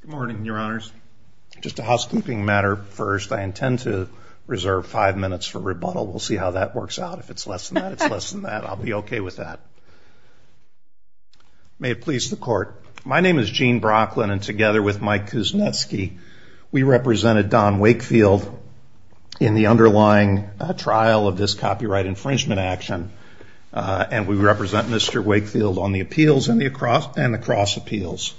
Good morning, Your Honors. Just a housekeeping matter first. I intend to reserve five minutes for rebuttal. We'll see how that works out. If it's less than that, it's less than that. I'll be okay with that. May it please the Court. My name is Gene Brocklin, and together with Mike Kuznetsky, we represented Don Wakefield in the underlying trial of this copyright infringement action, and we represent Mr. Wakefield on the appeals and the cross appeals.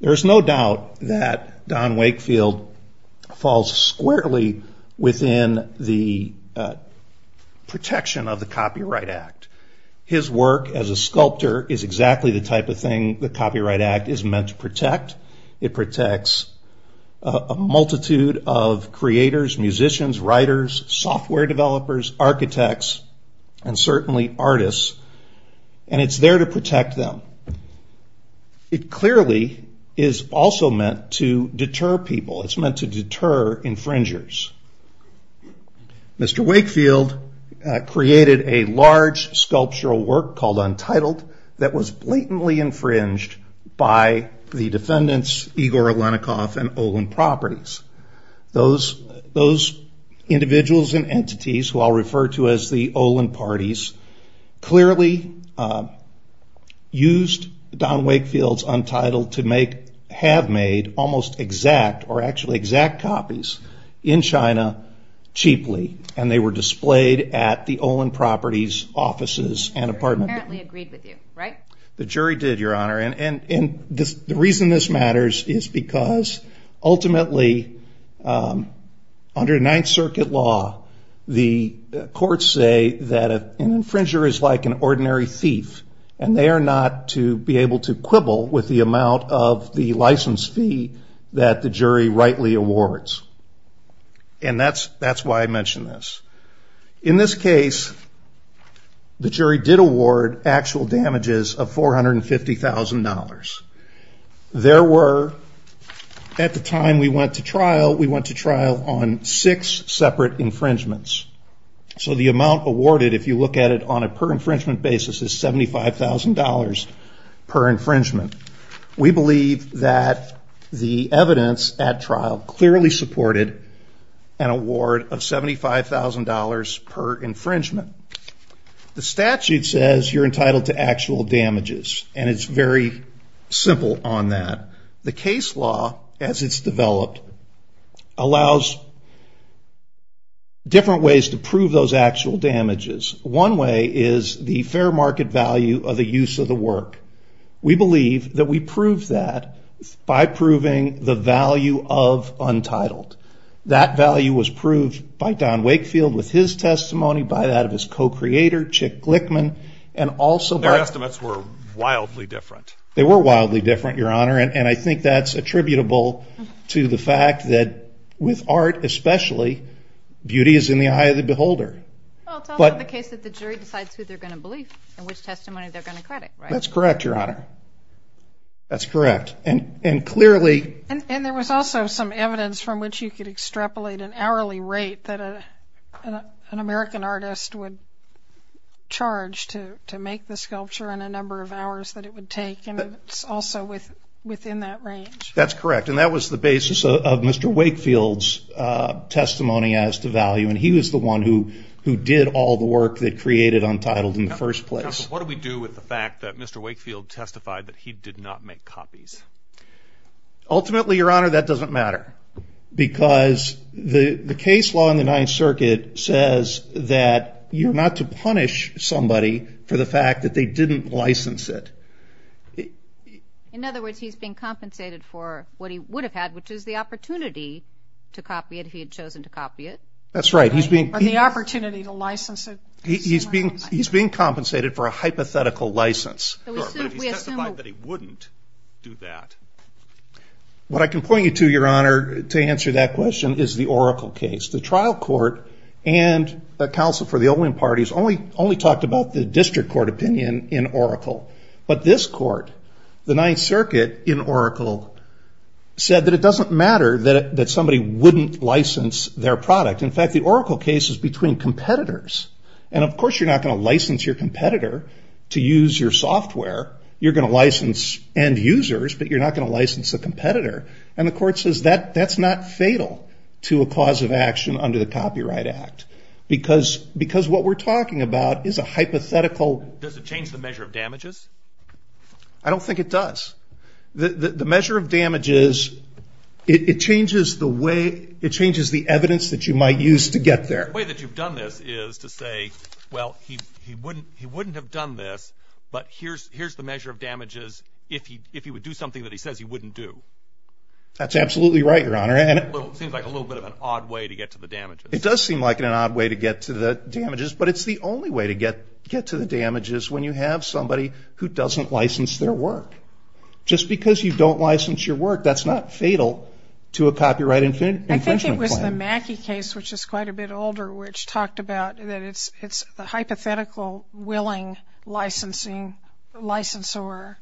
There is no doubt that Don Wakefield falls squarely within the protection of the Copyright Act. His work as a sculptor is exactly the type of thing the Copyright Act is meant to protect. It protects a multitude of creators, musicians, writers, software developers, architects, and certainly artists, and it's there to protect them. It clearly is also meant to deter people. It's meant to deter infringers. Mr. Wakefield created a large sculptural work called Untitled that was blatantly infringed by the defendants Igor Alenikoff and Olin Properties. Those individuals and entities, who I'll refer to as the Olin Parties, clearly used Don Wakefield's Untitled to have made almost exact or actually exact copies in China cheaply, and they were displayed at the Olin Properties offices and apartment buildings. The jury apparently agreed with you, right? The jury did, Your Honor, and the reason this matters is because ultimately, under Ninth Circuit law, the courts say that an infringer is like an ordinary thief, and they are not to be able to quibble with the amount of the license fee that the jury rightly awards. And that's why I mention this. In this case, the jury did award actual damages of $450,000. There were, at the time we went to trial, we went to trial on six separate infringements. So the amount awarded, if you look at it on a per-infringement basis, is $75,000 per infringement. We believe that the evidence at trial clearly supported an award of $75,000 per infringement. The statute says you're entitled to actual damages, and it's very simple on that. The case law, as it's developed, allows different ways to prove those actual damages. One way is the fair market value of the use of the work. We believe that we prove that by proving the value of untitled. That value was proved by Don Wakefield with his testimony, by that of his co-creator, Chick Glickman, and also by- Their estimates were wildly different. They were wildly different, Your Honor, and I think that's attributable to the fact that with art especially, beauty is in the eye of the beholder. Well, it's also the case that the jury decides who they're going to believe and which testimony they're going to credit, right? That's correct, Your Honor. That's correct, and clearly- And there was also some evidence from which you could extrapolate an hourly rate that an American artist would charge to make the sculpture and the number of hours that it would take, and it's also within that range. That's correct, and that was the basis of Mr. Wakefield's testimony as to value, and he was the one who did all the work that created Untitled in the first place. Counsel, what do we do with the fact that Mr. Wakefield testified that he did not make copies? Ultimately, Your Honor, that doesn't matter because the case law in the Ninth Circuit says that you're not to punish somebody for the fact that they didn't license it. In other words, he's being compensated for what he would have had, which is the opportunity to copy it if he had chosen to copy it. That's right. Or the opportunity to license it. He's being compensated for a hypothetical license, but he testified that he wouldn't do that. What I can point you to, Your Honor, to answer that question is the Oracle case. The trial court and the counsel for the Olin parties only talked about the district court opinion in Oracle, but this court, the Ninth Circuit in Oracle, said that it doesn't matter that somebody wouldn't license their product. In fact, the Oracle case is between competitors. Of course, you're not going to license your competitor to use your software. You're going to license end users, but you're not going to license a competitor. The court says that's not fatal to a cause of action under the Copyright Act because what we're talking about is a hypothetical. Does it change the measure of damages? I don't think it does. The measure of damages, it changes the evidence that you might use to get there. The way that you've done this is to say, well, he wouldn't have done this, but here's the measure of damages if he would do something that he says he wouldn't do. That's absolutely right, Your Honor. It seems like a little bit of an odd way to get to the damages. It does seem like an odd way to get to the damages, but it's the only way to get to the damages when you have somebody who doesn't license their work. Just because you don't license your work, that's not fatal to a copyright infringement claim. I think it was the Mackey case, which is quite a bit older, which talked about that it's the hypothetical willing licensor that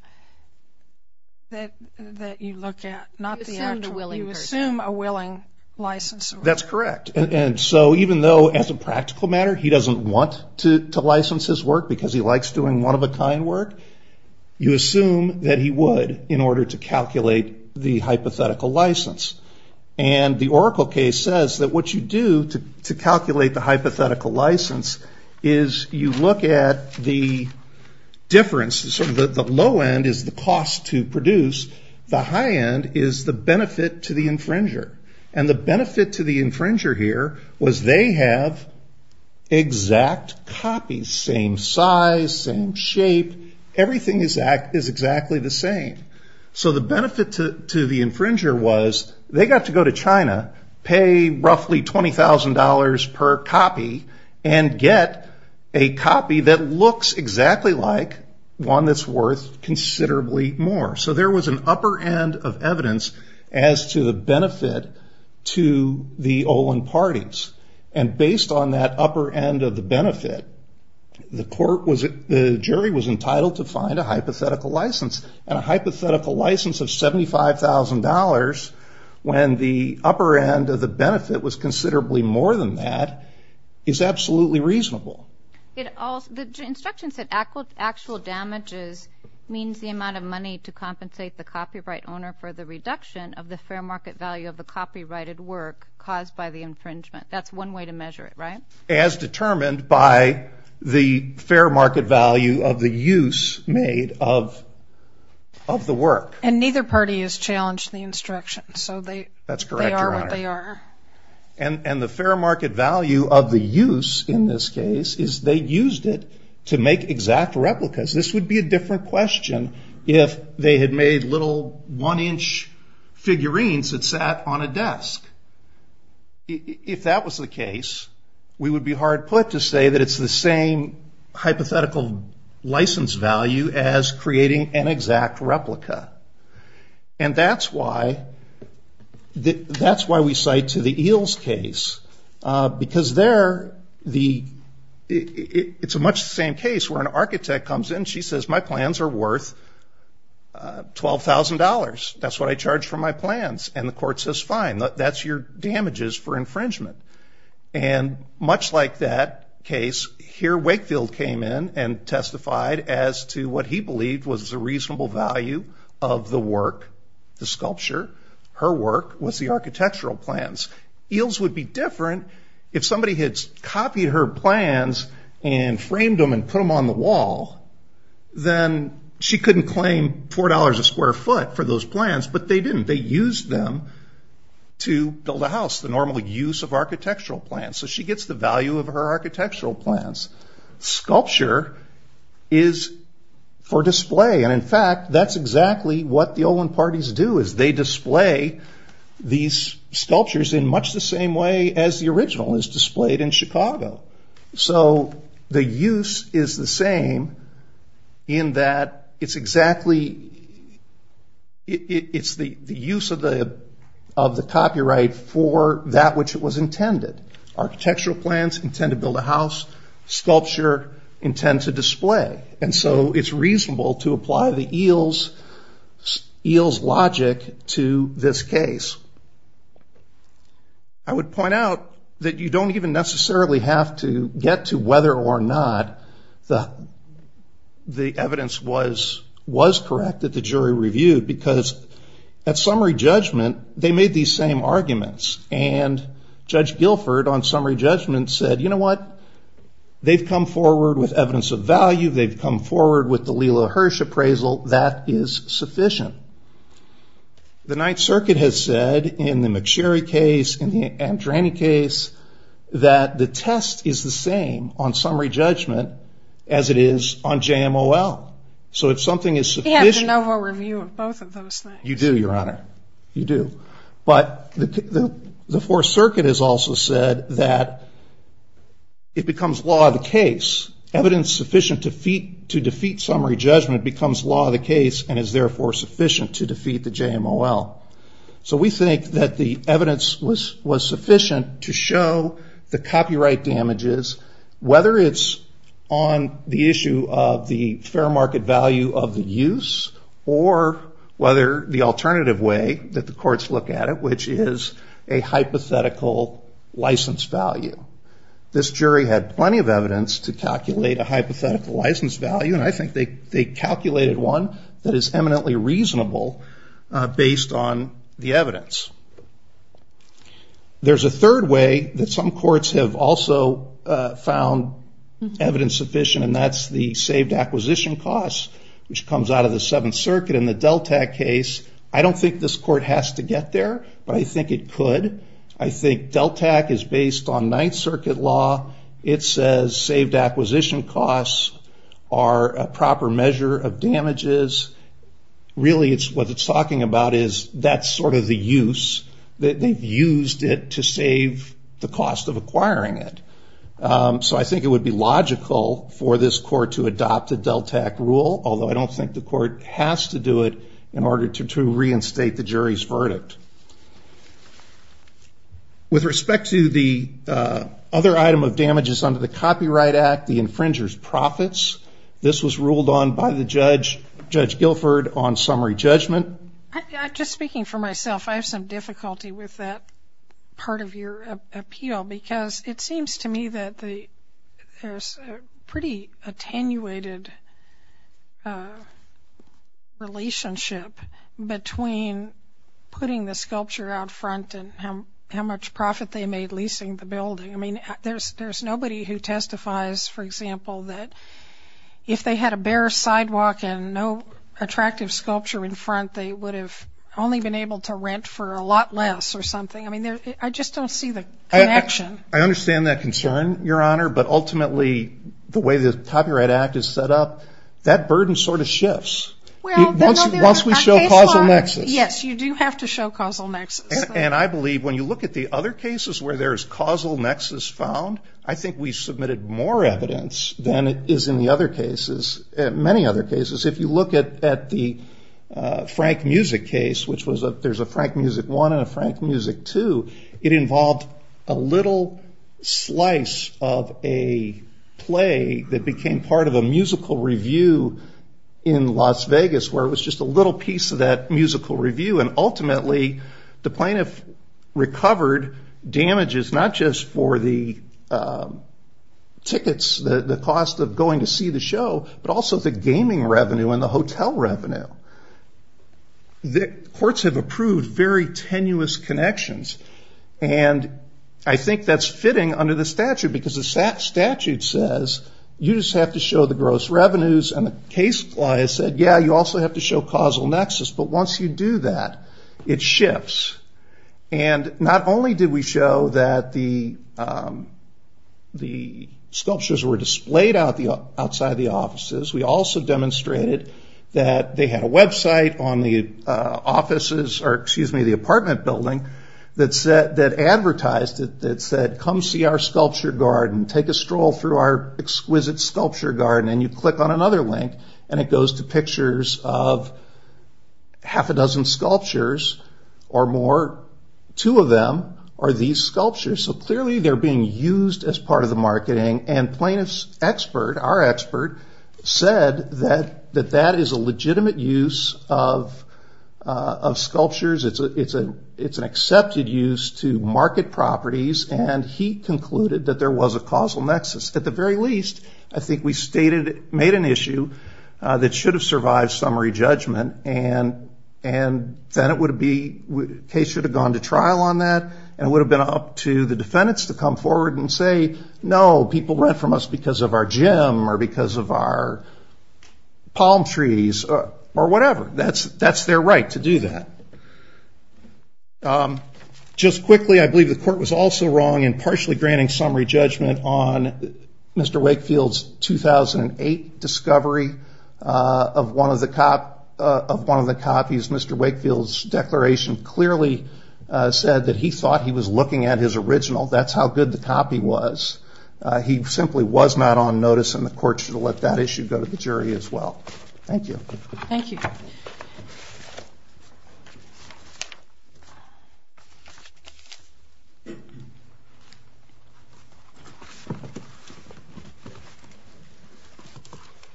you look at. You assume a willing licensor. That's correct. Even though, as a practical matter, he doesn't want to license his work because he likes doing one-of-a-kind work, you assume that he would in order to calculate the hypothetical license. The Oracle case says that what you do to calculate the hypothetical license is you look at the differences. The low end is the cost to produce. The high end is the benefit to the infringer. The benefit to the infringer here was they have exact copies, same size, same shape. Everything is exactly the same. The benefit to the infringer was they got to go to China, pay roughly $20,000 per copy, and get a copy that looks exactly like one that's worth considerably more. There was an upper end of evidence as to the benefit to the Olin parties. Based on that upper end of the benefit, the jury was entitled to find a hypothetical license. A hypothetical license of $75,000, when the upper end of the benefit was considerably more than that, is absolutely reasonable. The instruction said actual damages means the amount of money to compensate the copyright owner for the reduction of the fair market value of the copyrighted work caused by the infringement. That's one way to measure it, right? As determined by the fair market value of the use made of the work. And neither party is challenged in the instruction, so they are what they are. The fair market value of the use, in this case, is they used it to make exact replicas. This would be a different question if they had made little one-inch figurines that sat on a desk. If that was the case, we would be hard put to say that it's the same hypothetical license value as creating an exact replica. And that's why we cite to the Eels case, because it's much the same case where an architect comes in, and she says, my plans are worth $12,000. That's what I charged for my plans. And the court says, fine, that's your damages for infringement. And much like that case, here Wakefield came in and testified as to what he believed was a reasonable value of the work, the sculpture. Her work was the architectural plans. Eels would be different if somebody had copied her plans and framed them and put them on the wall. Then she couldn't claim $4 a square foot for those plans, but they didn't. They used them to build a house, the normal use of architectural plans. So she gets the value of her architectural plans. Sculpture is for display. And in fact, that's exactly what the Olin parties do, is they display these sculptures in much the same way as the original is displayed in Chicago. So the use is the same in that it's exactly the use of the copyright for that which it was intended. Architectural plans intend to build a house. Sculpture intends to display. And so it's reasonable to apply the Eels logic to this case. I would point out that you don't even necessarily have to get to whether or not the evidence was correct that the jury reviewed, because at summary judgment, they made these same arguments. And Judge Guilford on summary judgment said, you know what? They've come forward with evidence of value. They've come forward with the Lela Hirsch appraisal. That is sufficient. The Ninth Circuit has said in the McSherry case, in the Andrani case, that the test is the same on summary judgment as it is on JMOL. So if something is sufficient. We have the Novo review on both of those things. You do, Your Honor. You do. But the Fourth Circuit has also said that it becomes law of the case. Evidence sufficient to defeat summary judgment becomes law of the case and is therefore sufficient to defeat the JMOL. So we think that the evidence was sufficient to show the copyright damages, whether it's on the issue of the fair market value of the use or whether the alternative way that the courts look at it, which is a hypothetical license value. This jury had plenty of evidence to calculate a hypothetical license value, and I think they calculated one that is eminently reasonable based on the evidence. There's a third way that some courts have also found evidence sufficient, and that's the saved acquisition costs, which comes out of the Seventh Circuit. In the DELTAC case, I don't think this court has to get there, but I think it could. I think DELTAC is based on Ninth Circuit law. It says saved acquisition costs are a proper measure of damages. Really what it's talking about is that's sort of the use, that they've used it to save the cost of acquiring it. So I think it would be logical for this court to adopt a DELTAC rule, although I don't think the court has to do it in order to reinstate the jury's verdict. With respect to the other item of damages under the Copyright Act, the infringer's profits, this was ruled on by the judge, Judge Guilford, on summary judgment. Just speaking for myself, I have some difficulty with that part of your appeal because it seems to me that there's a pretty attenuated relationship between putting the sculpture out front and how much profit they made leasing the building. I mean, there's nobody who testifies, for example, that if they had a bare sidewalk and no attractive sculpture in front, they would have only been able to rent for a lot less or something. I just don't see the connection. I understand that concern, Your Honor, but ultimately the way the Copyright Act is set up, that burden sort of shifts once we show causal nexus. Yes, you do have to show causal nexus. And I believe when you look at the other cases where there's causal nexus found, I think we submitted more evidence than is in the other cases, many other cases. If you look at the Frank Music case, which there's a Frank Music I and a Frank Music II, it involved a little slice of a play that became part of a musical review in Las Vegas where it was just a little piece of that musical review, and ultimately the plaintiff recovered damages not just for the tickets, the cost of going to see the show, but also the gaming revenue and the hotel revenue. Courts have approved very tenuous connections, and I think that's fitting under the statute because the statute says you just have to show the gross revenues, and the case law has said, yeah, you also have to show causal nexus, but once you do that, it shifts. And not only did we show that the sculptures were displayed outside the offices, we also demonstrated that they had a website on the apartment building that advertised it that said, come see our sculpture garden, take a stroll through our exquisite sculpture garden, and you click on another link, and it goes to pictures of half a dozen sculptures or more, two of them are these sculptures. So clearly they're being used as part of the marketing, and plaintiff's expert, our expert, said that that is a legitimate use of sculptures, it's an accepted use to market properties, and he concluded that there was a causal nexus. At the very least, I think we made an issue that should have survived summary judgment, and then the case should have gone to trial on that, and it would have been up to the defendants to come forward and say, no, people rent from us because of our gym, or because of our palm trees, or whatever. That's their right to do that. Just quickly, I believe the court was also wrong in partially granting summary judgment on Mr. Wakefield's 2008 discovery of one of the copies. Mr. Wakefield's declaration clearly said that he thought he was looking at his original, that's how good the copy was. He simply was not on notice, and the court should have let that issue go to the jury as well. Thank you. Thank you.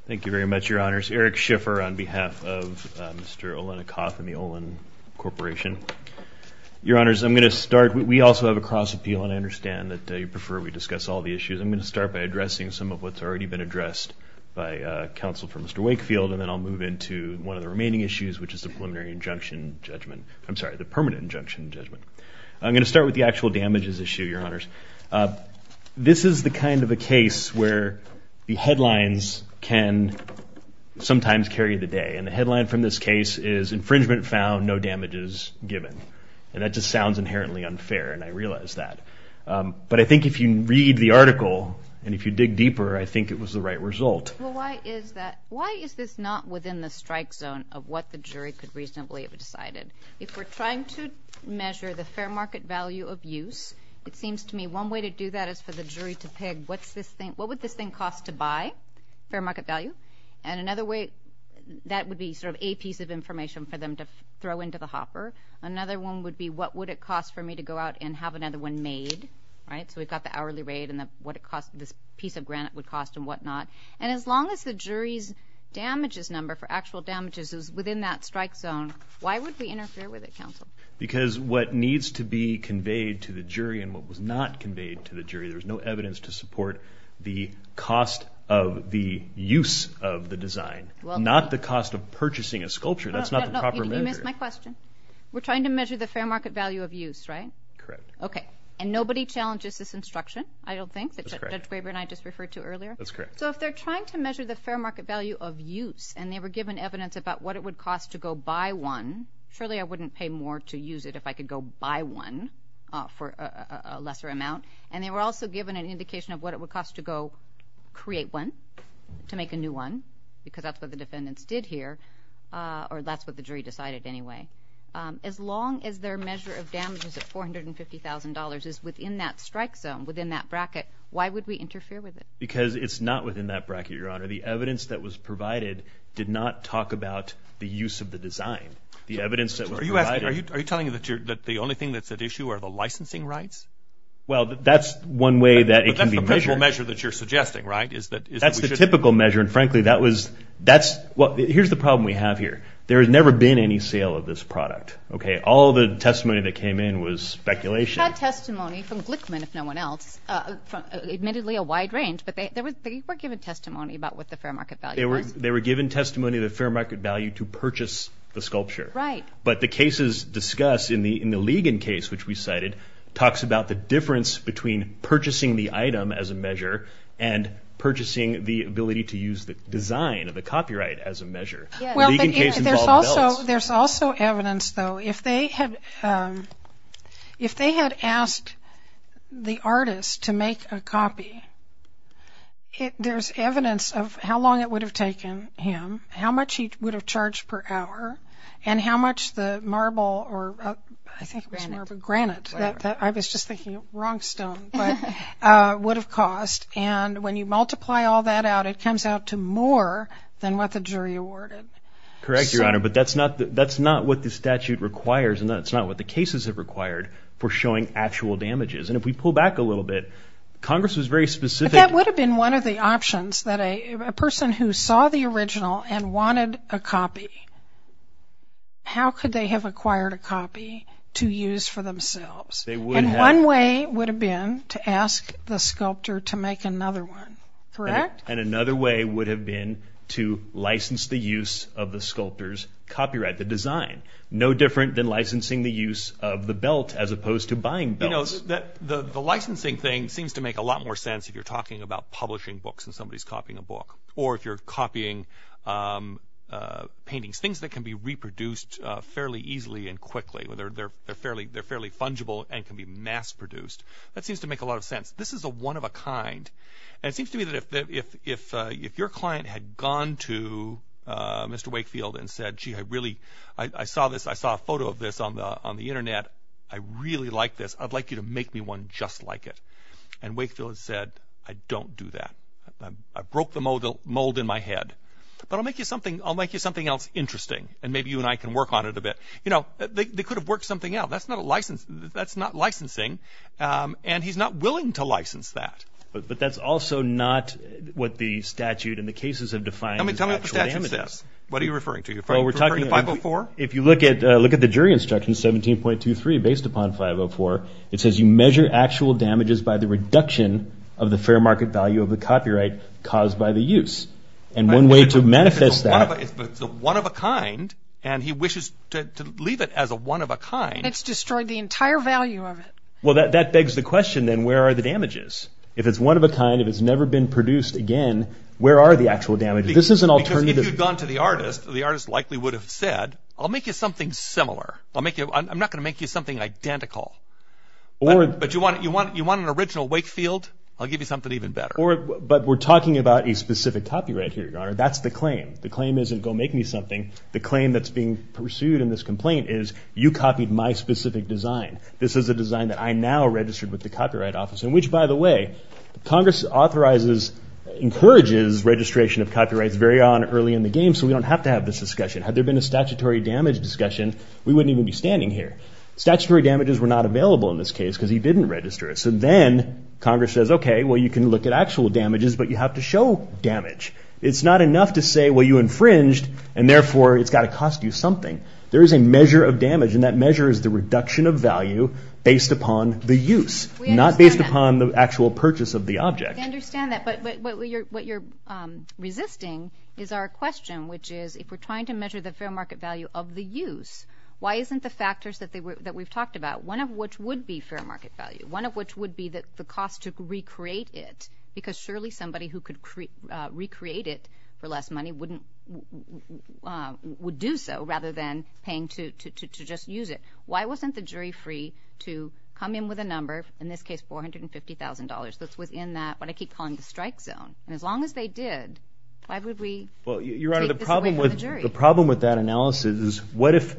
Thank you very much, Your Honors. Eric Schiffer on behalf of Mr. Olenikoff and the Olen Corporation. Your Honors, I'm going to start. We also have a cross-appeal, and I understand that you prefer we discuss all the issues. I'm going to start by addressing some of what's already been addressed by counsel for Mr. Wakefield, and then I'll move into one of the remaining issues, which is the preliminary injunction judgment. I'm sorry, the permanent injunction judgment. I'm going to start with the actual damages issue, Your Honors. This is the kind of a case where the headlines can sometimes carry the day, and the headline from this case is infringement found, no damages given. And that just sounds inherently unfair, and I realize that. But I think if you read the article, and if you dig deeper, I think it was the right result. Well, why is that? Why is this not within the strike zone of what the jury could reasonably have decided? If we're trying to measure the fair market value of use, it seems to me one way to do that is for the jury to pick, what would this thing cost to buy, fair market value? And another way, that would be sort of a piece of information for them to throw into the hopper. Another one would be what would it cost for me to go out and have another one made, right? So we've got the hourly rate and what this piece of granite would cost and whatnot. And as long as the jury's damages number for actual damages is within that strike zone, why would we interfere with it, counsel? Because what needs to be conveyed to the jury and what was not conveyed to the jury, there was no evidence to support the cost of the use of the design, not the cost of purchasing a sculpture. That's not the proper measure. Did you miss my question? We're trying to measure the fair market value of use, right? Correct. Okay. And nobody challenges this instruction, I don't think, that Judge Graber and I just referred to earlier? That's correct. So if they're trying to measure the fair market value of use, and they were given evidence about what it would cost to go buy one, surely I wouldn't pay more to use it if I could go buy one for a lesser amount. And they were also given an indication of what it would cost to go create one, to make a new one, because that's what the defendants did here, or that's what the jury decided anyway. As long as their measure of damages of $450,000 is within that strike zone, within that bracket, why would we interfere with it? Because it's not within that bracket, Your Honor. The evidence that was provided did not talk about the use of the design. The evidence that was provided – Are you telling me that the only thing that's at issue are the licensing rights? Well, that's one way that it can be measured. But that's the principle measure that you're suggesting, right? That's the typical measure, and, frankly, that was – here's the problem we have here. There has never been any sale of this product. Okay? All the testimony that came in was speculation. We had testimony from Glickman, if no one else, admittedly a wide range, but they were given testimony about what the fair market value was. They were given testimony of the fair market value to purchase the sculpture. Right. But the cases discussed in the Ligon case, which we cited, talks about the difference between purchasing the item as a measure and purchasing the ability to use the design of the copyright as a measure. Well, there's also evidence, though. If they had asked the artist to make a copy, there's evidence of how long it would have taken him, how much he would have charged per hour, and how much the marble or – I think it was marble. Granite. Granite. I was just thinking wrong stone, but would have cost. And when you multiply all that out, it comes out to more than what the jury awarded. Correct, Your Honor, but that's not what the statute requires, and that's not what the cases have required for showing actual damages. And if we pull back a little bit, Congress was very specific. But that would have been one of the options, that a person who saw the original and wanted a copy, how could they have acquired a copy to use for themselves? They would have. And one way would have been to ask the sculptor to make another one, correct? And another way would have been to license the use of the sculptor's copyright, the design. No different than licensing the use of the belt as opposed to buying belts. You know, the licensing thing seems to make a lot more sense if you're talking about publishing books and somebody's copying a book, or if you're copying paintings, things that can be reproduced fairly easily and quickly. They're fairly fungible and can be mass produced. That seems to make a lot of sense. This is a one of a kind. And it seems to me that if your client had gone to Mr. Wakefield and said, gee, I saw a photo of this on the Internet. I really like this. I'd like you to make me one just like it. And Wakefield said, I don't do that. I broke the mold in my head. But I'll make you something else interesting, and maybe you and I can work on it a bit. You know, they could have worked something out. That's not licensing, and he's not willing to license that. But that's also not what the statute and the cases have defined as actual damages. Tell me what the statute says. What are you referring to? Are you referring to 504? If you look at the jury instructions, 17.23, based upon 504, it says you measure actual damages by the reduction of the fair market value of the copyright caused by the use. And one way to manifest that. It's a one of a kind, and he wishes to leave it as a one of a kind. It's destroyed the entire value of it. Well, that begs the question, then, where are the damages? If it's one of a kind, if it's never been produced again, where are the actual damages? This is an alternative. Because if you'd gone to the artist, the artist likely would have said, I'll make you something similar. I'm not going to make you something identical. But you want an original Wakefield? I'll give you something even better. But we're talking about a specific copyright here, Your Honor. That's the claim. The claim isn't go make me something. The claim that's being pursued in this complaint is you copied my specific design. This is a design that I now registered with the Copyright Office. And which, by the way, Congress authorizes, encourages registration of copyrights very early on in the game, so we don't have to have this discussion. Had there been a statutory damage discussion, we wouldn't even be standing here. Statutory damages were not available in this case because he didn't register it. So then Congress says, okay, well, you can look at actual damages, but you have to show damage. It's not enough to say, well, you infringed, and therefore it's got to cost you something. There is a measure of damage, and that measure is the reduction of value based upon the use, not based upon the actual purchase of the object. I understand that, but what you're resisting is our question, which is if we're trying to measure the fair market value of the use, why isn't the factors that we've talked about, one of which would be fair market value, one of which would be the cost to recreate it, because surely somebody who could recreate it for less money would do so rather than paying to just use it. Why wasn't the jury free to come in with a number, in this case $450,000, that's within that what I keep calling the strike zone? And as long as they did, why would we take this away from the jury? Well, Your Honor, the problem with that analysis is what if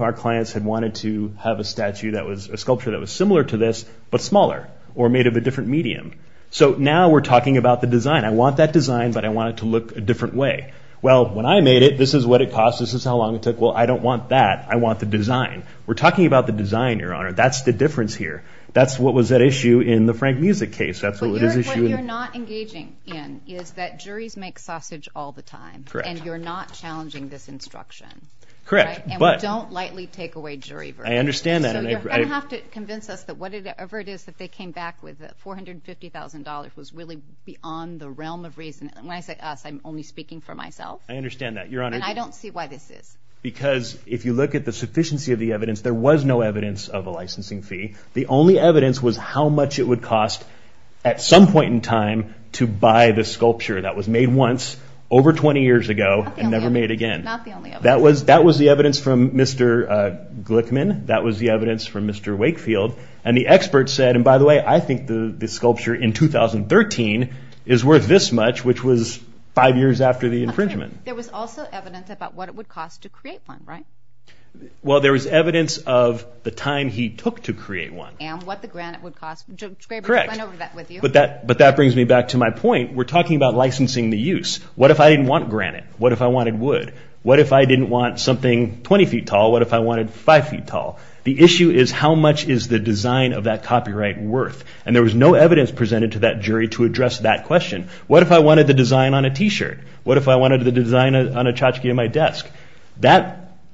our clients had wanted to have a statue, a sculpture that was similar to this but smaller or made of a different medium? So now we're talking about the design. I want that design, but I want it to look a different way. Well, when I made it, this is what it cost. This is how long it took. Well, I don't want that. I want the design. We're talking about the design, Your Honor. That's the difference here. That's what was at issue in the Frank Musick case. That's what was at issue. What you're not engaging in is that juries make sausage all the time, and you're not challenging this instruction. Correct. And we don't lightly take away jury verdicts. I understand that. So you're going to have to convince us that whatever it is that they came back with, that $450,000 was really beyond the realm of reason. When I say us, I'm only speaking for myself. I understand that, Your Honor. And I don't see why this is. Because if you look at the sufficiency of the evidence, there was no evidence of a licensing fee. The only evidence was how much it would cost at some point in time to buy the sculpture that was made once over 20 years ago and never made again. Not the only evidence. That was the evidence from Mr. Glickman. That was the evidence from Mr. Wakefield. And the expert said, and by the way, I think the sculpture in 2013 is worth this much, which was five years after the infringement. There was also evidence about what it would cost to create one, right? Well, there was evidence of the time he took to create one. And what the granite would cost. Correct. But that brings me back to my point. We're talking about licensing the use. What if I didn't want granite? What if I wanted wood? What if I didn't want something 20 feet tall? What if I wanted five feet tall? The issue is how much is the design of that copyright worth? And there was no evidence presented to that jury to address that question. What if I wanted the design on a T-shirt? What if I wanted the design on a tchotchke on my desk?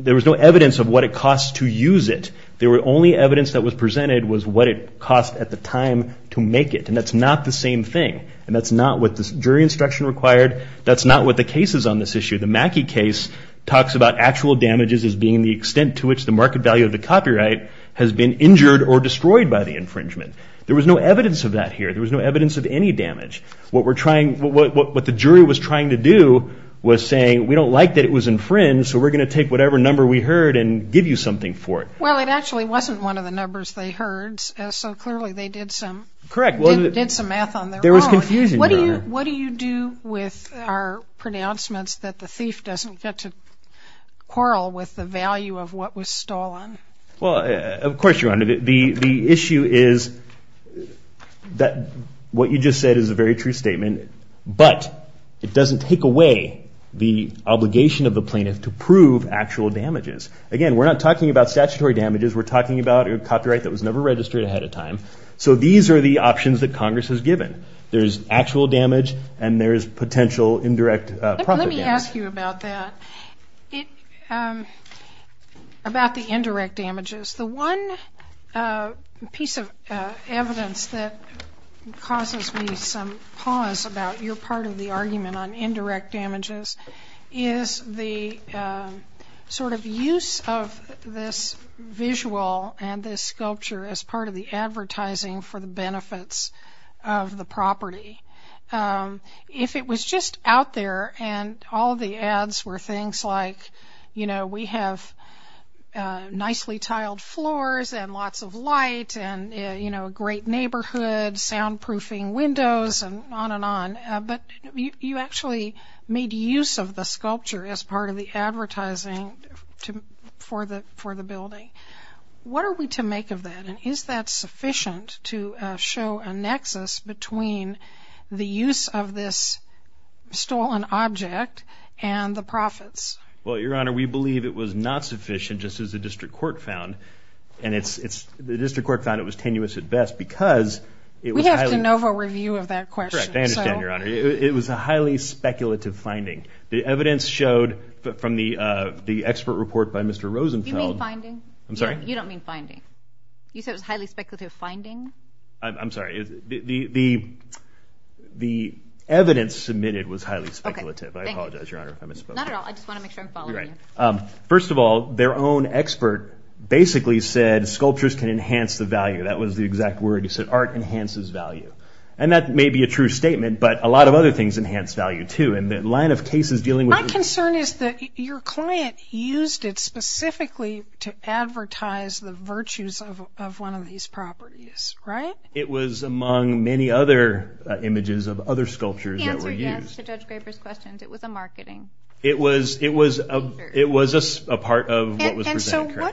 There was no evidence of what it costs to use it. The only evidence that was presented was what it cost at the time to make it. And that's not the same thing. And that's not what the jury instruction required. That's not what the case is on this issue. The Mackey case talks about actual damages as being the extent to which the market value of the copyright has been injured or destroyed by the infringement. There was no evidence of that here. There was no evidence of any damage. What the jury was trying to do was saying we don't like that it was infringed, so we're going to take whatever number we heard and give you something for it. Well, it actually wasn't one of the numbers they heard, so clearly they did some math on their own. There was confusion, Your Honor. What do you do with our pronouncements that the thief doesn't get to quarrel with the value of what was stolen? Well, of course, Your Honor. The issue is that what you just said is a very true statement, but it doesn't take away the obligation of the plaintiff to prove actual damages. Again, we're not talking about statutory damages. We're talking about a copyright that was never registered ahead of time. So these are the options that Congress has given. There's actual damage and there's potential indirect profit damage. Let me ask you about that, about the indirect damages. The one piece of evidence that causes me some pause about your part of the argument on indirect damages is the sort of use of this visual and this sculpture as part of the advertising for the benefits of the property. If it was just out there and all the ads were things like, you know, we have nicely tiled floors and lots of light and, you know, a great neighborhood, soundproofing windows and on and on, but you actually made use of the sculpture as part of the advertising for the building. What are we to make of that? And is that sufficient to show a nexus between the use of this stolen object and the profits? Well, Your Honor, we believe it was not sufficient just as the district court found. And the district court found it was tenuous at best because it was highly... We have to NOVA review of that question. Correct. I understand, Your Honor. It was a highly speculative finding. The evidence showed from the expert report by Mr. Rosenfeld... I'm sorry? You don't mean finding. You said it was a highly speculative finding? I'm sorry. The evidence submitted was highly speculative. Okay. Thank you. I apologize, Your Honor. I misspoke. Not at all. I just want to make sure I'm following you. Right. First of all, their own expert basically said sculptures can enhance the value. That was the exact word. He said art enhances value. And that may be a true statement, but a lot of other things enhance value, too. And the line of cases dealing with... My concern is that your client used it specifically to advertise the virtues of one of these properties, right? It was among many other images of other sculptures that were used. He answered yes to Judge Graper's questions. It was a marketing feature. It was a part of what was presented. And so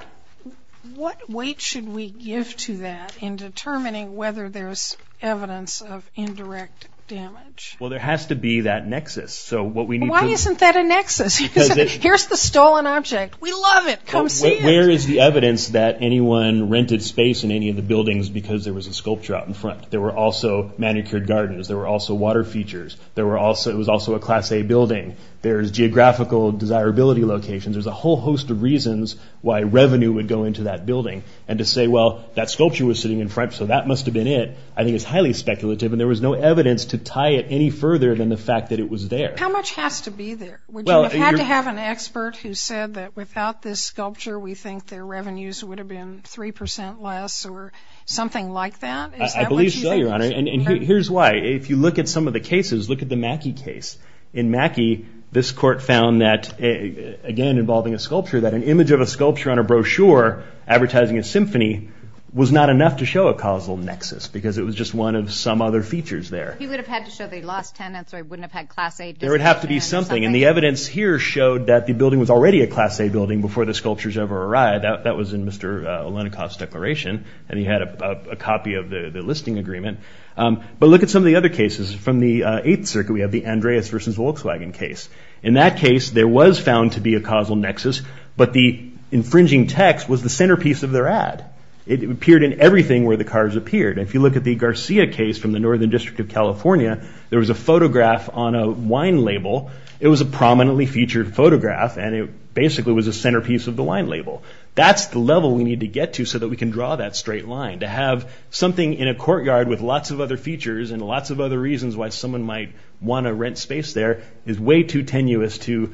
what weight should we give to that in determining whether there's evidence of indirect damage? Well, there has to be that nexus. Why isn't that a nexus? Here's the stolen object. We love it. Come see it. Where is the evidence that anyone rented space in any of the buildings because there was a sculpture out in front? There were also manicured gardens. There were also water features. It was also a Class A building. There's geographical desirability locations. There's a whole host of reasons why revenue would go into that building. And to say, well, that sculpture was sitting in front, so that must have been it, I think is highly speculative. And there was no evidence to tie it any further than the fact that it was there. How much has to be there? Would you have had to have an expert who said that without this sculpture, we think their revenues would have been 3 percent less or something like that? I believe so, Your Honor. And here's why. If you look at some of the cases, look at the Mackey case. In Mackey, this court found that, again, involving a sculpture, that an image of a sculpture on a brochure advertising a symphony was not enough to show a causal nexus because it was just one of some other features there. He would have had to show that he lost tenants or he wouldn't have had Class A designation or something? There would have to be something. And the evidence here showed that the building was already a Class A building before the sculptures ever arrived. That was in Mr. Olenikoff's declaration, and he had a copy of the listing agreement. But look at some of the other cases. From the Eighth Circuit, we have the Andreas v. Volkswagen case. In that case, there was found to be a causal nexus, but the infringing text was the centerpiece of their ad. It appeared in everything where the cars appeared. If you look at the Garcia case from the Northern District of California, there was a photograph on a wine label. It was a prominently featured photograph, and it basically was a centerpiece of the wine label. That's the level we need to get to so that we can draw that straight line. To have something in a courtyard with lots of other features and lots of other reasons why someone might want to rent space there is way too tenuous to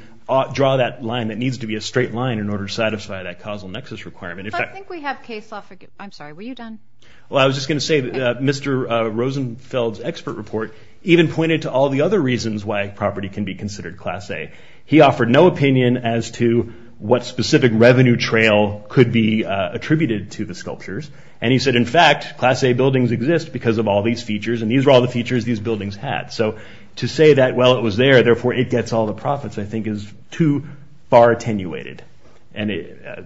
draw that line that needs to be a straight line in order to satisfy that causal nexus requirement. If I think we have case law for—I'm sorry, were you done? I was just going to say that Mr. Rosenfeld's expert report even pointed to all the other reasons why property can be considered Class A. He offered no opinion as to what specific revenue trail could be attributed to the sculptures. He said, in fact, Class A buildings exist because of all these features, and these are all the features these buildings had. To say that, well, it was there, therefore it gets all the profits, I think is too far attenuated.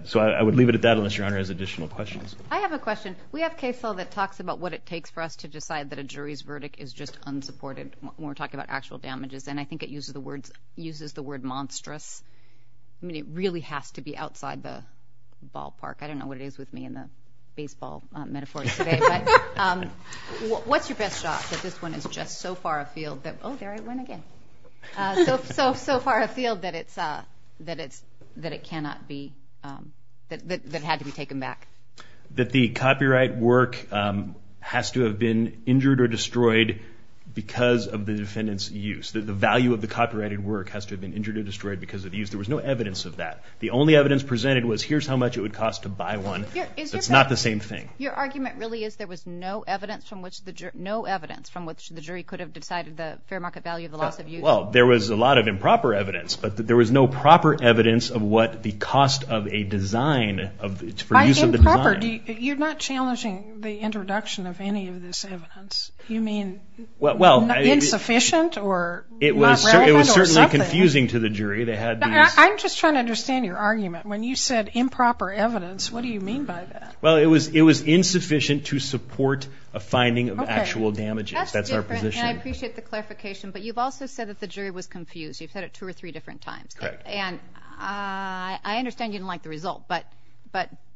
So I would leave it at that unless Your Honor has additional questions. I have a question. We have case law that talks about what it takes for us to decide that a jury's verdict is just unsupported when we're talking about actual damages, and I think it uses the word monstrous. I mean, it really has to be outside the ballpark. I don't know what it is with me and the baseball metaphors today, but what's your best shot that this one is just so far afield that—oh, there I went again— so far afield that it cannot be—that it had to be taken back? That the copyright work has to have been injured or destroyed because of the defendant's use. The value of the copyrighted work has to have been injured or destroyed because of use. There was no evidence of that. The only evidence presented was here's how much it would cost to buy one. It's not the same thing. Your argument really is there was no evidence from which the jury could have decided the fair market value of the loss of use? Well, there was a lot of improper evidence, but there was no proper evidence of what the cost of a design for use of the design— By improper, you're not challenging the introduction of any of this evidence. You mean insufficient or not relevant or something? It was certainly confusing to the jury. I'm just trying to understand your argument. When you said improper evidence, what do you mean by that? Well, it was insufficient to support a finding of actual damages. That's different, and I appreciate the clarification, but you've also said that the jury was confused. You've said it two or three different times. Correct. And I understand you didn't like the result, but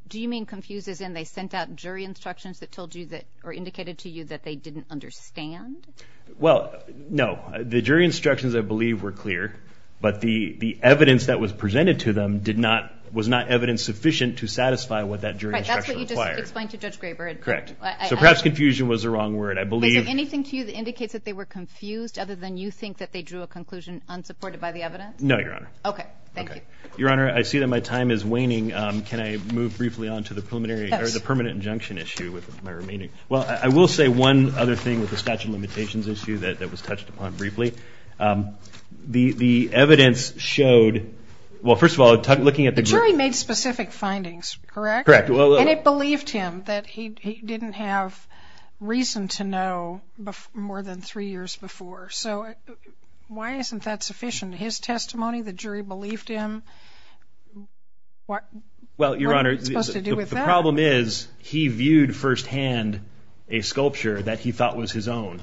do you mean confused as in they sent out jury instructions that told you that— or indicated to you that they didn't understand? Well, no. The jury instructions, I believe, were clear, but the evidence that was presented to them was not evidence sufficient to satisfy what that jury instruction required. Right, that's what you just explained to Judge Graber. Correct. So perhaps confusion was the wrong word. Is there anything to you that indicates that they were confused other than you think that they drew a conclusion unsupported by the evidence? No, Your Honor. Okay, thank you. Your Honor, I see that my time is waning. Can I move briefly on to the permanent injunction issue with my remaining— Well, I will say one other thing with the statute of limitations issue that was touched upon briefly. The evidence showed—well, first of all, looking at the jury— The jury made specific findings, correct? Correct. And it believed him that he didn't have reason to know more than three years before. So why isn't that sufficient? His testimony, the jury believed him. Well, Your Honor, the problem is he viewed firsthand a sculpture that he thought was his own.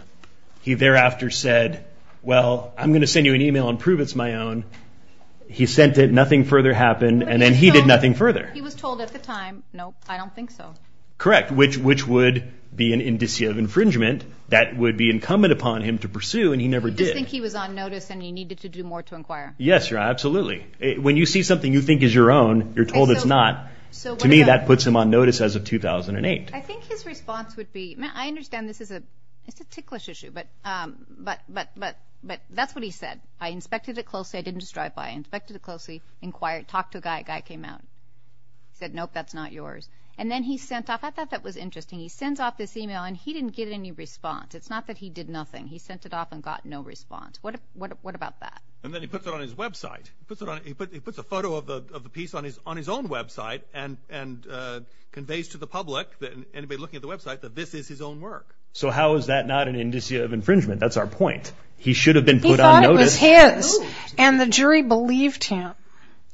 He thereafter said, well, I'm going to send you an email and prove it's my own. He sent it, nothing further happened, and then he did nothing further. He was told at the time, no, I don't think so. Correct, which would be an indicia of infringement that would be incumbent upon him to pursue, and he never did. You just think he was on notice and he needed to do more to inquire. Yes, Your Honor, absolutely. When you see something you think is your own, you're told it's not. To me, that puts him on notice as of 2008. I think his response would be—I understand this is a ticklish issue, but that's what he said. I inspected it closely. I didn't just drive by. I inspected it closely, inquired, talked to a guy. That guy came out, said, nope, that's not yours. And then he sent off—I thought that was interesting. He sends off this email, and he didn't get any response. It's not that he did nothing. He sent it off and got no response. What about that? And then he puts it on his website. He puts a photo of the piece on his own website and conveys to the public, anybody looking at the website, that this is his own work. So how is that not an indicia of infringement? That's our point. He should have been put on notice. He thought it was his, and the jury believed him.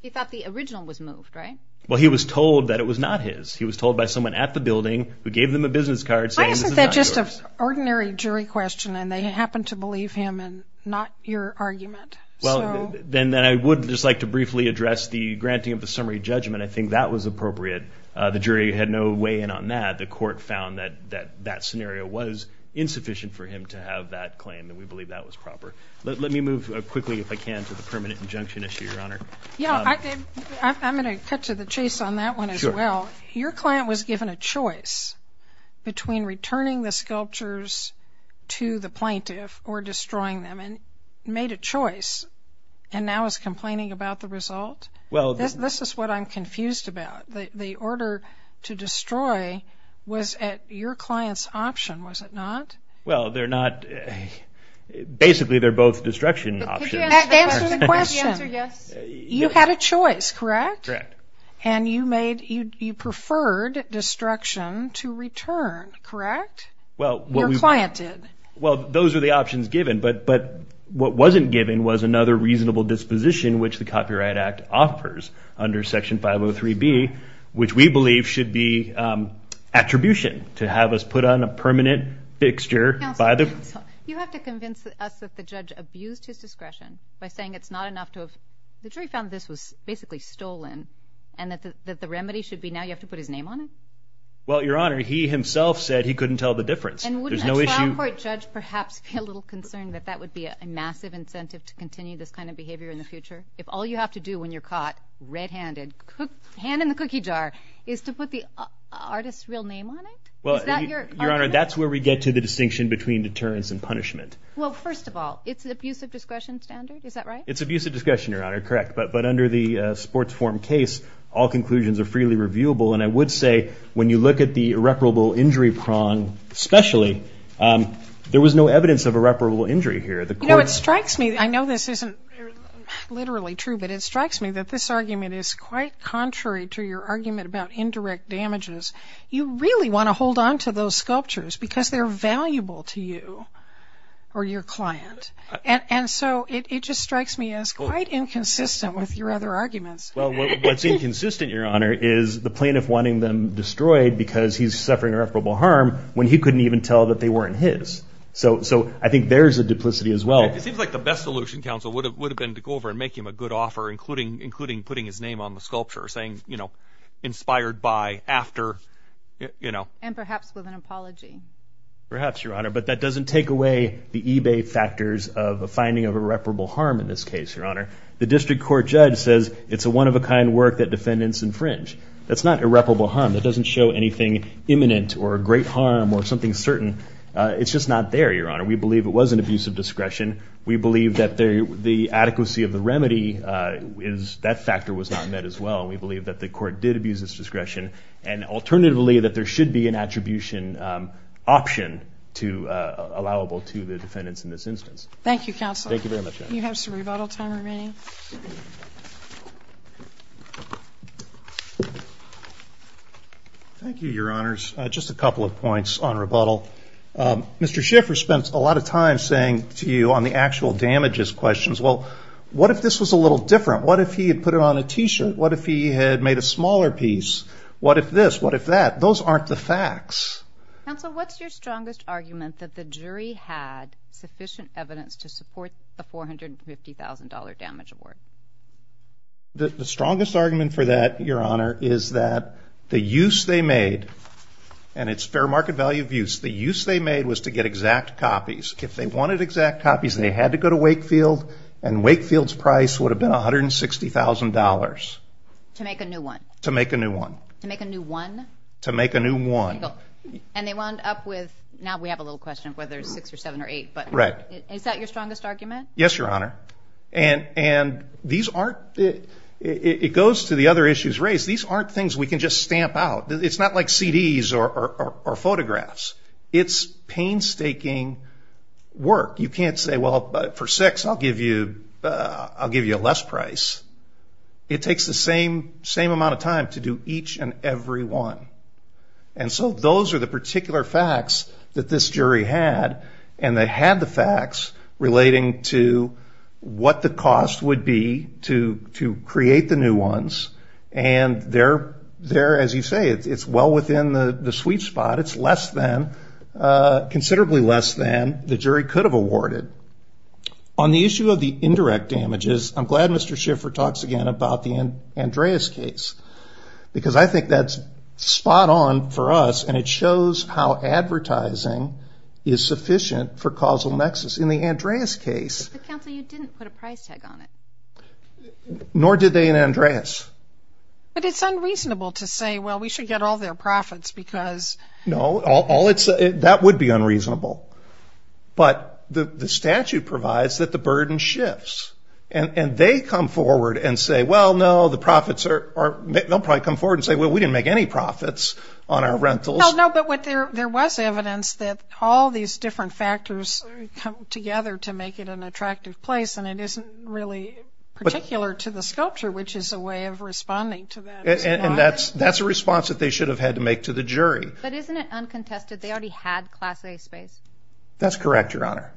He thought the original was moved, right? Well, he was told that it was not his. He was told by someone at the building who gave them a business card saying this is not yours. Why isn't that just an ordinary jury question, and they happen to believe him and not your argument? Well, then I would just like to briefly address the granting of the summary judgment. I think that was appropriate. The jury had no way in on that. The court found that that scenario was insufficient for him to have that claim, and we believe that was proper. Let me move quickly, if I can, to the permanent injunction issue, Your Honor. Yeah, I'm going to cut to the chase on that one as well. Your client was given a choice between returning the sculptures to the plaintiff or destroying them, and made a choice, and now is complaining about the result? This is what I'm confused about. The order to destroy was at your client's option, was it not? Well, they're not. Basically, they're both destruction options. Answer the question. You had a choice, correct? Correct. And you preferred destruction to return, correct? Your client did. Well, those are the options given, but what wasn't given was another reasonable disposition, which the Copyright Act offers under Section 503B, which we believe should be attribution, to have us put on a permanent fixture. Counsel, you have to convince us that the judge abused his discretion by saying it's not enough to have – the jury found this was basically stolen, and that the remedy should be now you have to put his name on it? Well, Your Honor, he himself said he couldn't tell the difference. And wouldn't a trial court judge perhaps be a little concerned that that would be a massive incentive to continue this kind of behavior in the future? If all you have to do when you're caught red-handed, hand in the cookie jar, is to put the artist's real name on it? Is that your argument? Your Honor, that's where we get to the distinction between deterrence and punishment. Well, first of all, it's an abusive discretion standard, is that right? It's abusive discretion, Your Honor, correct. But under the sports forum case, all conclusions are freely reviewable. And I would say when you look at the irreparable injury prong especially, there was no evidence of irreparable injury here. You know, it strikes me – I know this isn't literally true, but it strikes me that this argument is quite contrary to your argument about indirect damages. You really want to hold on to those sculptures because they're valuable to you or your client. And so it just strikes me as quite inconsistent with your other arguments. Well, what's inconsistent, Your Honor, is the plaintiff wanting them destroyed because he's suffering irreparable harm when he couldn't even tell that they weren't his. So I think there's a duplicity as well. It seems like the best solution, counsel, would have been to go over and make him a good offer, including putting his name on the sculpture saying, you know, inspired by, after, you know. And perhaps with an apology. Perhaps, Your Honor. But that doesn't take away the eBay factors of a finding of irreparable harm in this case, Your Honor. The district court judge says it's a one-of-a-kind work that defendants infringe. That's not irreparable harm. That doesn't show anything imminent or great harm or something certain. It's just not there, Your Honor. We believe it was an abuse of discretion. We believe that the adequacy of the remedy, that factor was not met as well. We believe that the court did abuse its discretion. And alternatively, that there should be an attribution option allowable to the defendants in this instance. Thank you, counsel. Thank you very much. You have some rebuttal time remaining. Thank you, Your Honors. Just a couple of points on rebuttal. Mr. Schiffer spent a lot of time saying to you on the actual damages questions, well, what if this was a little different? What if he had put it on a T-shirt? What if he had made a smaller piece? What if this? What if that? Those aren't the facts. Counsel, what's your strongest argument that the jury had sufficient evidence to support the $450,000 damage award? The strongest argument for that, Your Honor, is that the use they made, and it's fair market value of use, the use they made was to get exact copies. If they wanted exact copies and they had to go to Wakefield, and Wakefield's price would have been $160,000. To make a new one. To make a new one. To make a new one? To make a new one. And they wound up with, now we have a little question of whether it's six or seven or eight, but is that your strongest argument? Yes, Your Honor. And these aren't, it goes to the other issues raised, these aren't things we can just stamp out. It's not like CDs or photographs. It's painstaking work. You can't say, well, for six I'll give you a less price. It takes the same amount of time to do each and every one. And so those are the particular facts that this jury had. And they had the facts relating to what the cost would be to create the new ones. And they're, as you say, it's well within the sweet spot. It's less than, considerably less than the jury could have awarded. On the issue of the indirect damages, I'm glad Mr. Schiffer talks again about the Andreas case. Because I think that's spot on for us. And it shows how advertising is sufficient for causal nexus. In the Andreas case. But, counsel, you didn't put a price tag on it. Nor did they in Andreas. But it's unreasonable to say, well, we should get all their profits because. No, that would be unreasonable. But the statute provides that the burden shifts. And they come forward and say, well, no, the profits are. They'll probably come forward and say, well, we didn't make any profits on our rentals. No, but there was evidence that all these different factors come together to make it an attractive place. And it isn't really particular to the sculpture, which is a way of responding to that. And that's a response that they should have had to make to the jury. But isn't it uncontested? They already had class A space. That's correct, Your Honor.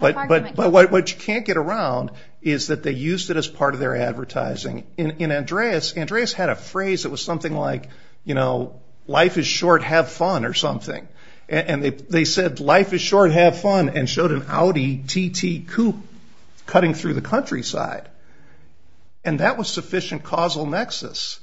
But what you can't get around is that they used it as part of their advertising. In Andreas, Andreas had a phrase that was something like, you know, life is short, have fun or something. And they said, life is short, have fun. And showed an Audi TT coupe cutting through the countryside. And that was sufficient causal nexus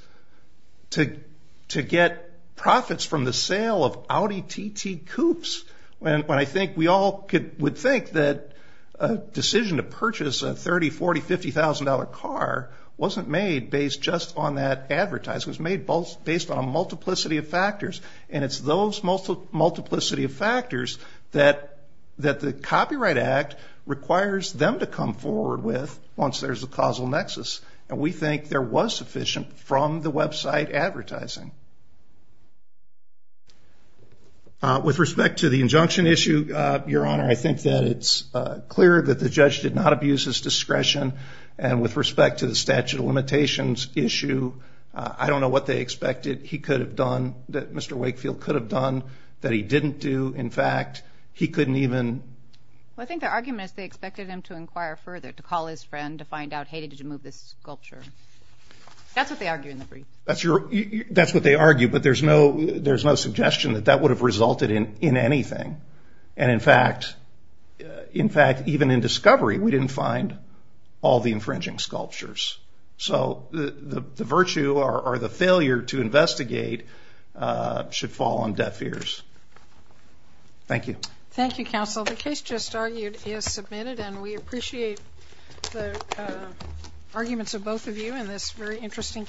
to get profits from the sale of Audi TT coupes. When I think we all would think that a decision to purchase a $30,000, $40,000, $50,000 car wasn't made based just on that advertising. It was made based on a multiplicity of factors. And it's those multiplicity of factors that the Copyright Act requires them to come forward with once there's a causal nexus. And we think there was sufficient from the website advertising. With respect to the injunction issue, Your Honor, I think that it's clear that the judge did not abuse his discretion. And with respect to the statute of limitations issue, I don't know what they expected he could have done, that Mr. Wakefield could have done, that he didn't do. In fact, he couldn't even. Well, I think their argument is they expected him to inquire further, to call his friend, to find out, hey, did you move this sculpture? That's what they argue in the brief. That's what they argue, but there's no suggestion that that would have resulted in anything. And, in fact, even in discovery, we didn't find all the infringing sculptures. So the virtue or the failure to investigate should fall on deaf ears. Thank you. Thank you, counsel. The case just argued is submitted, and we appreciate the arguments of both of you in this very interesting case.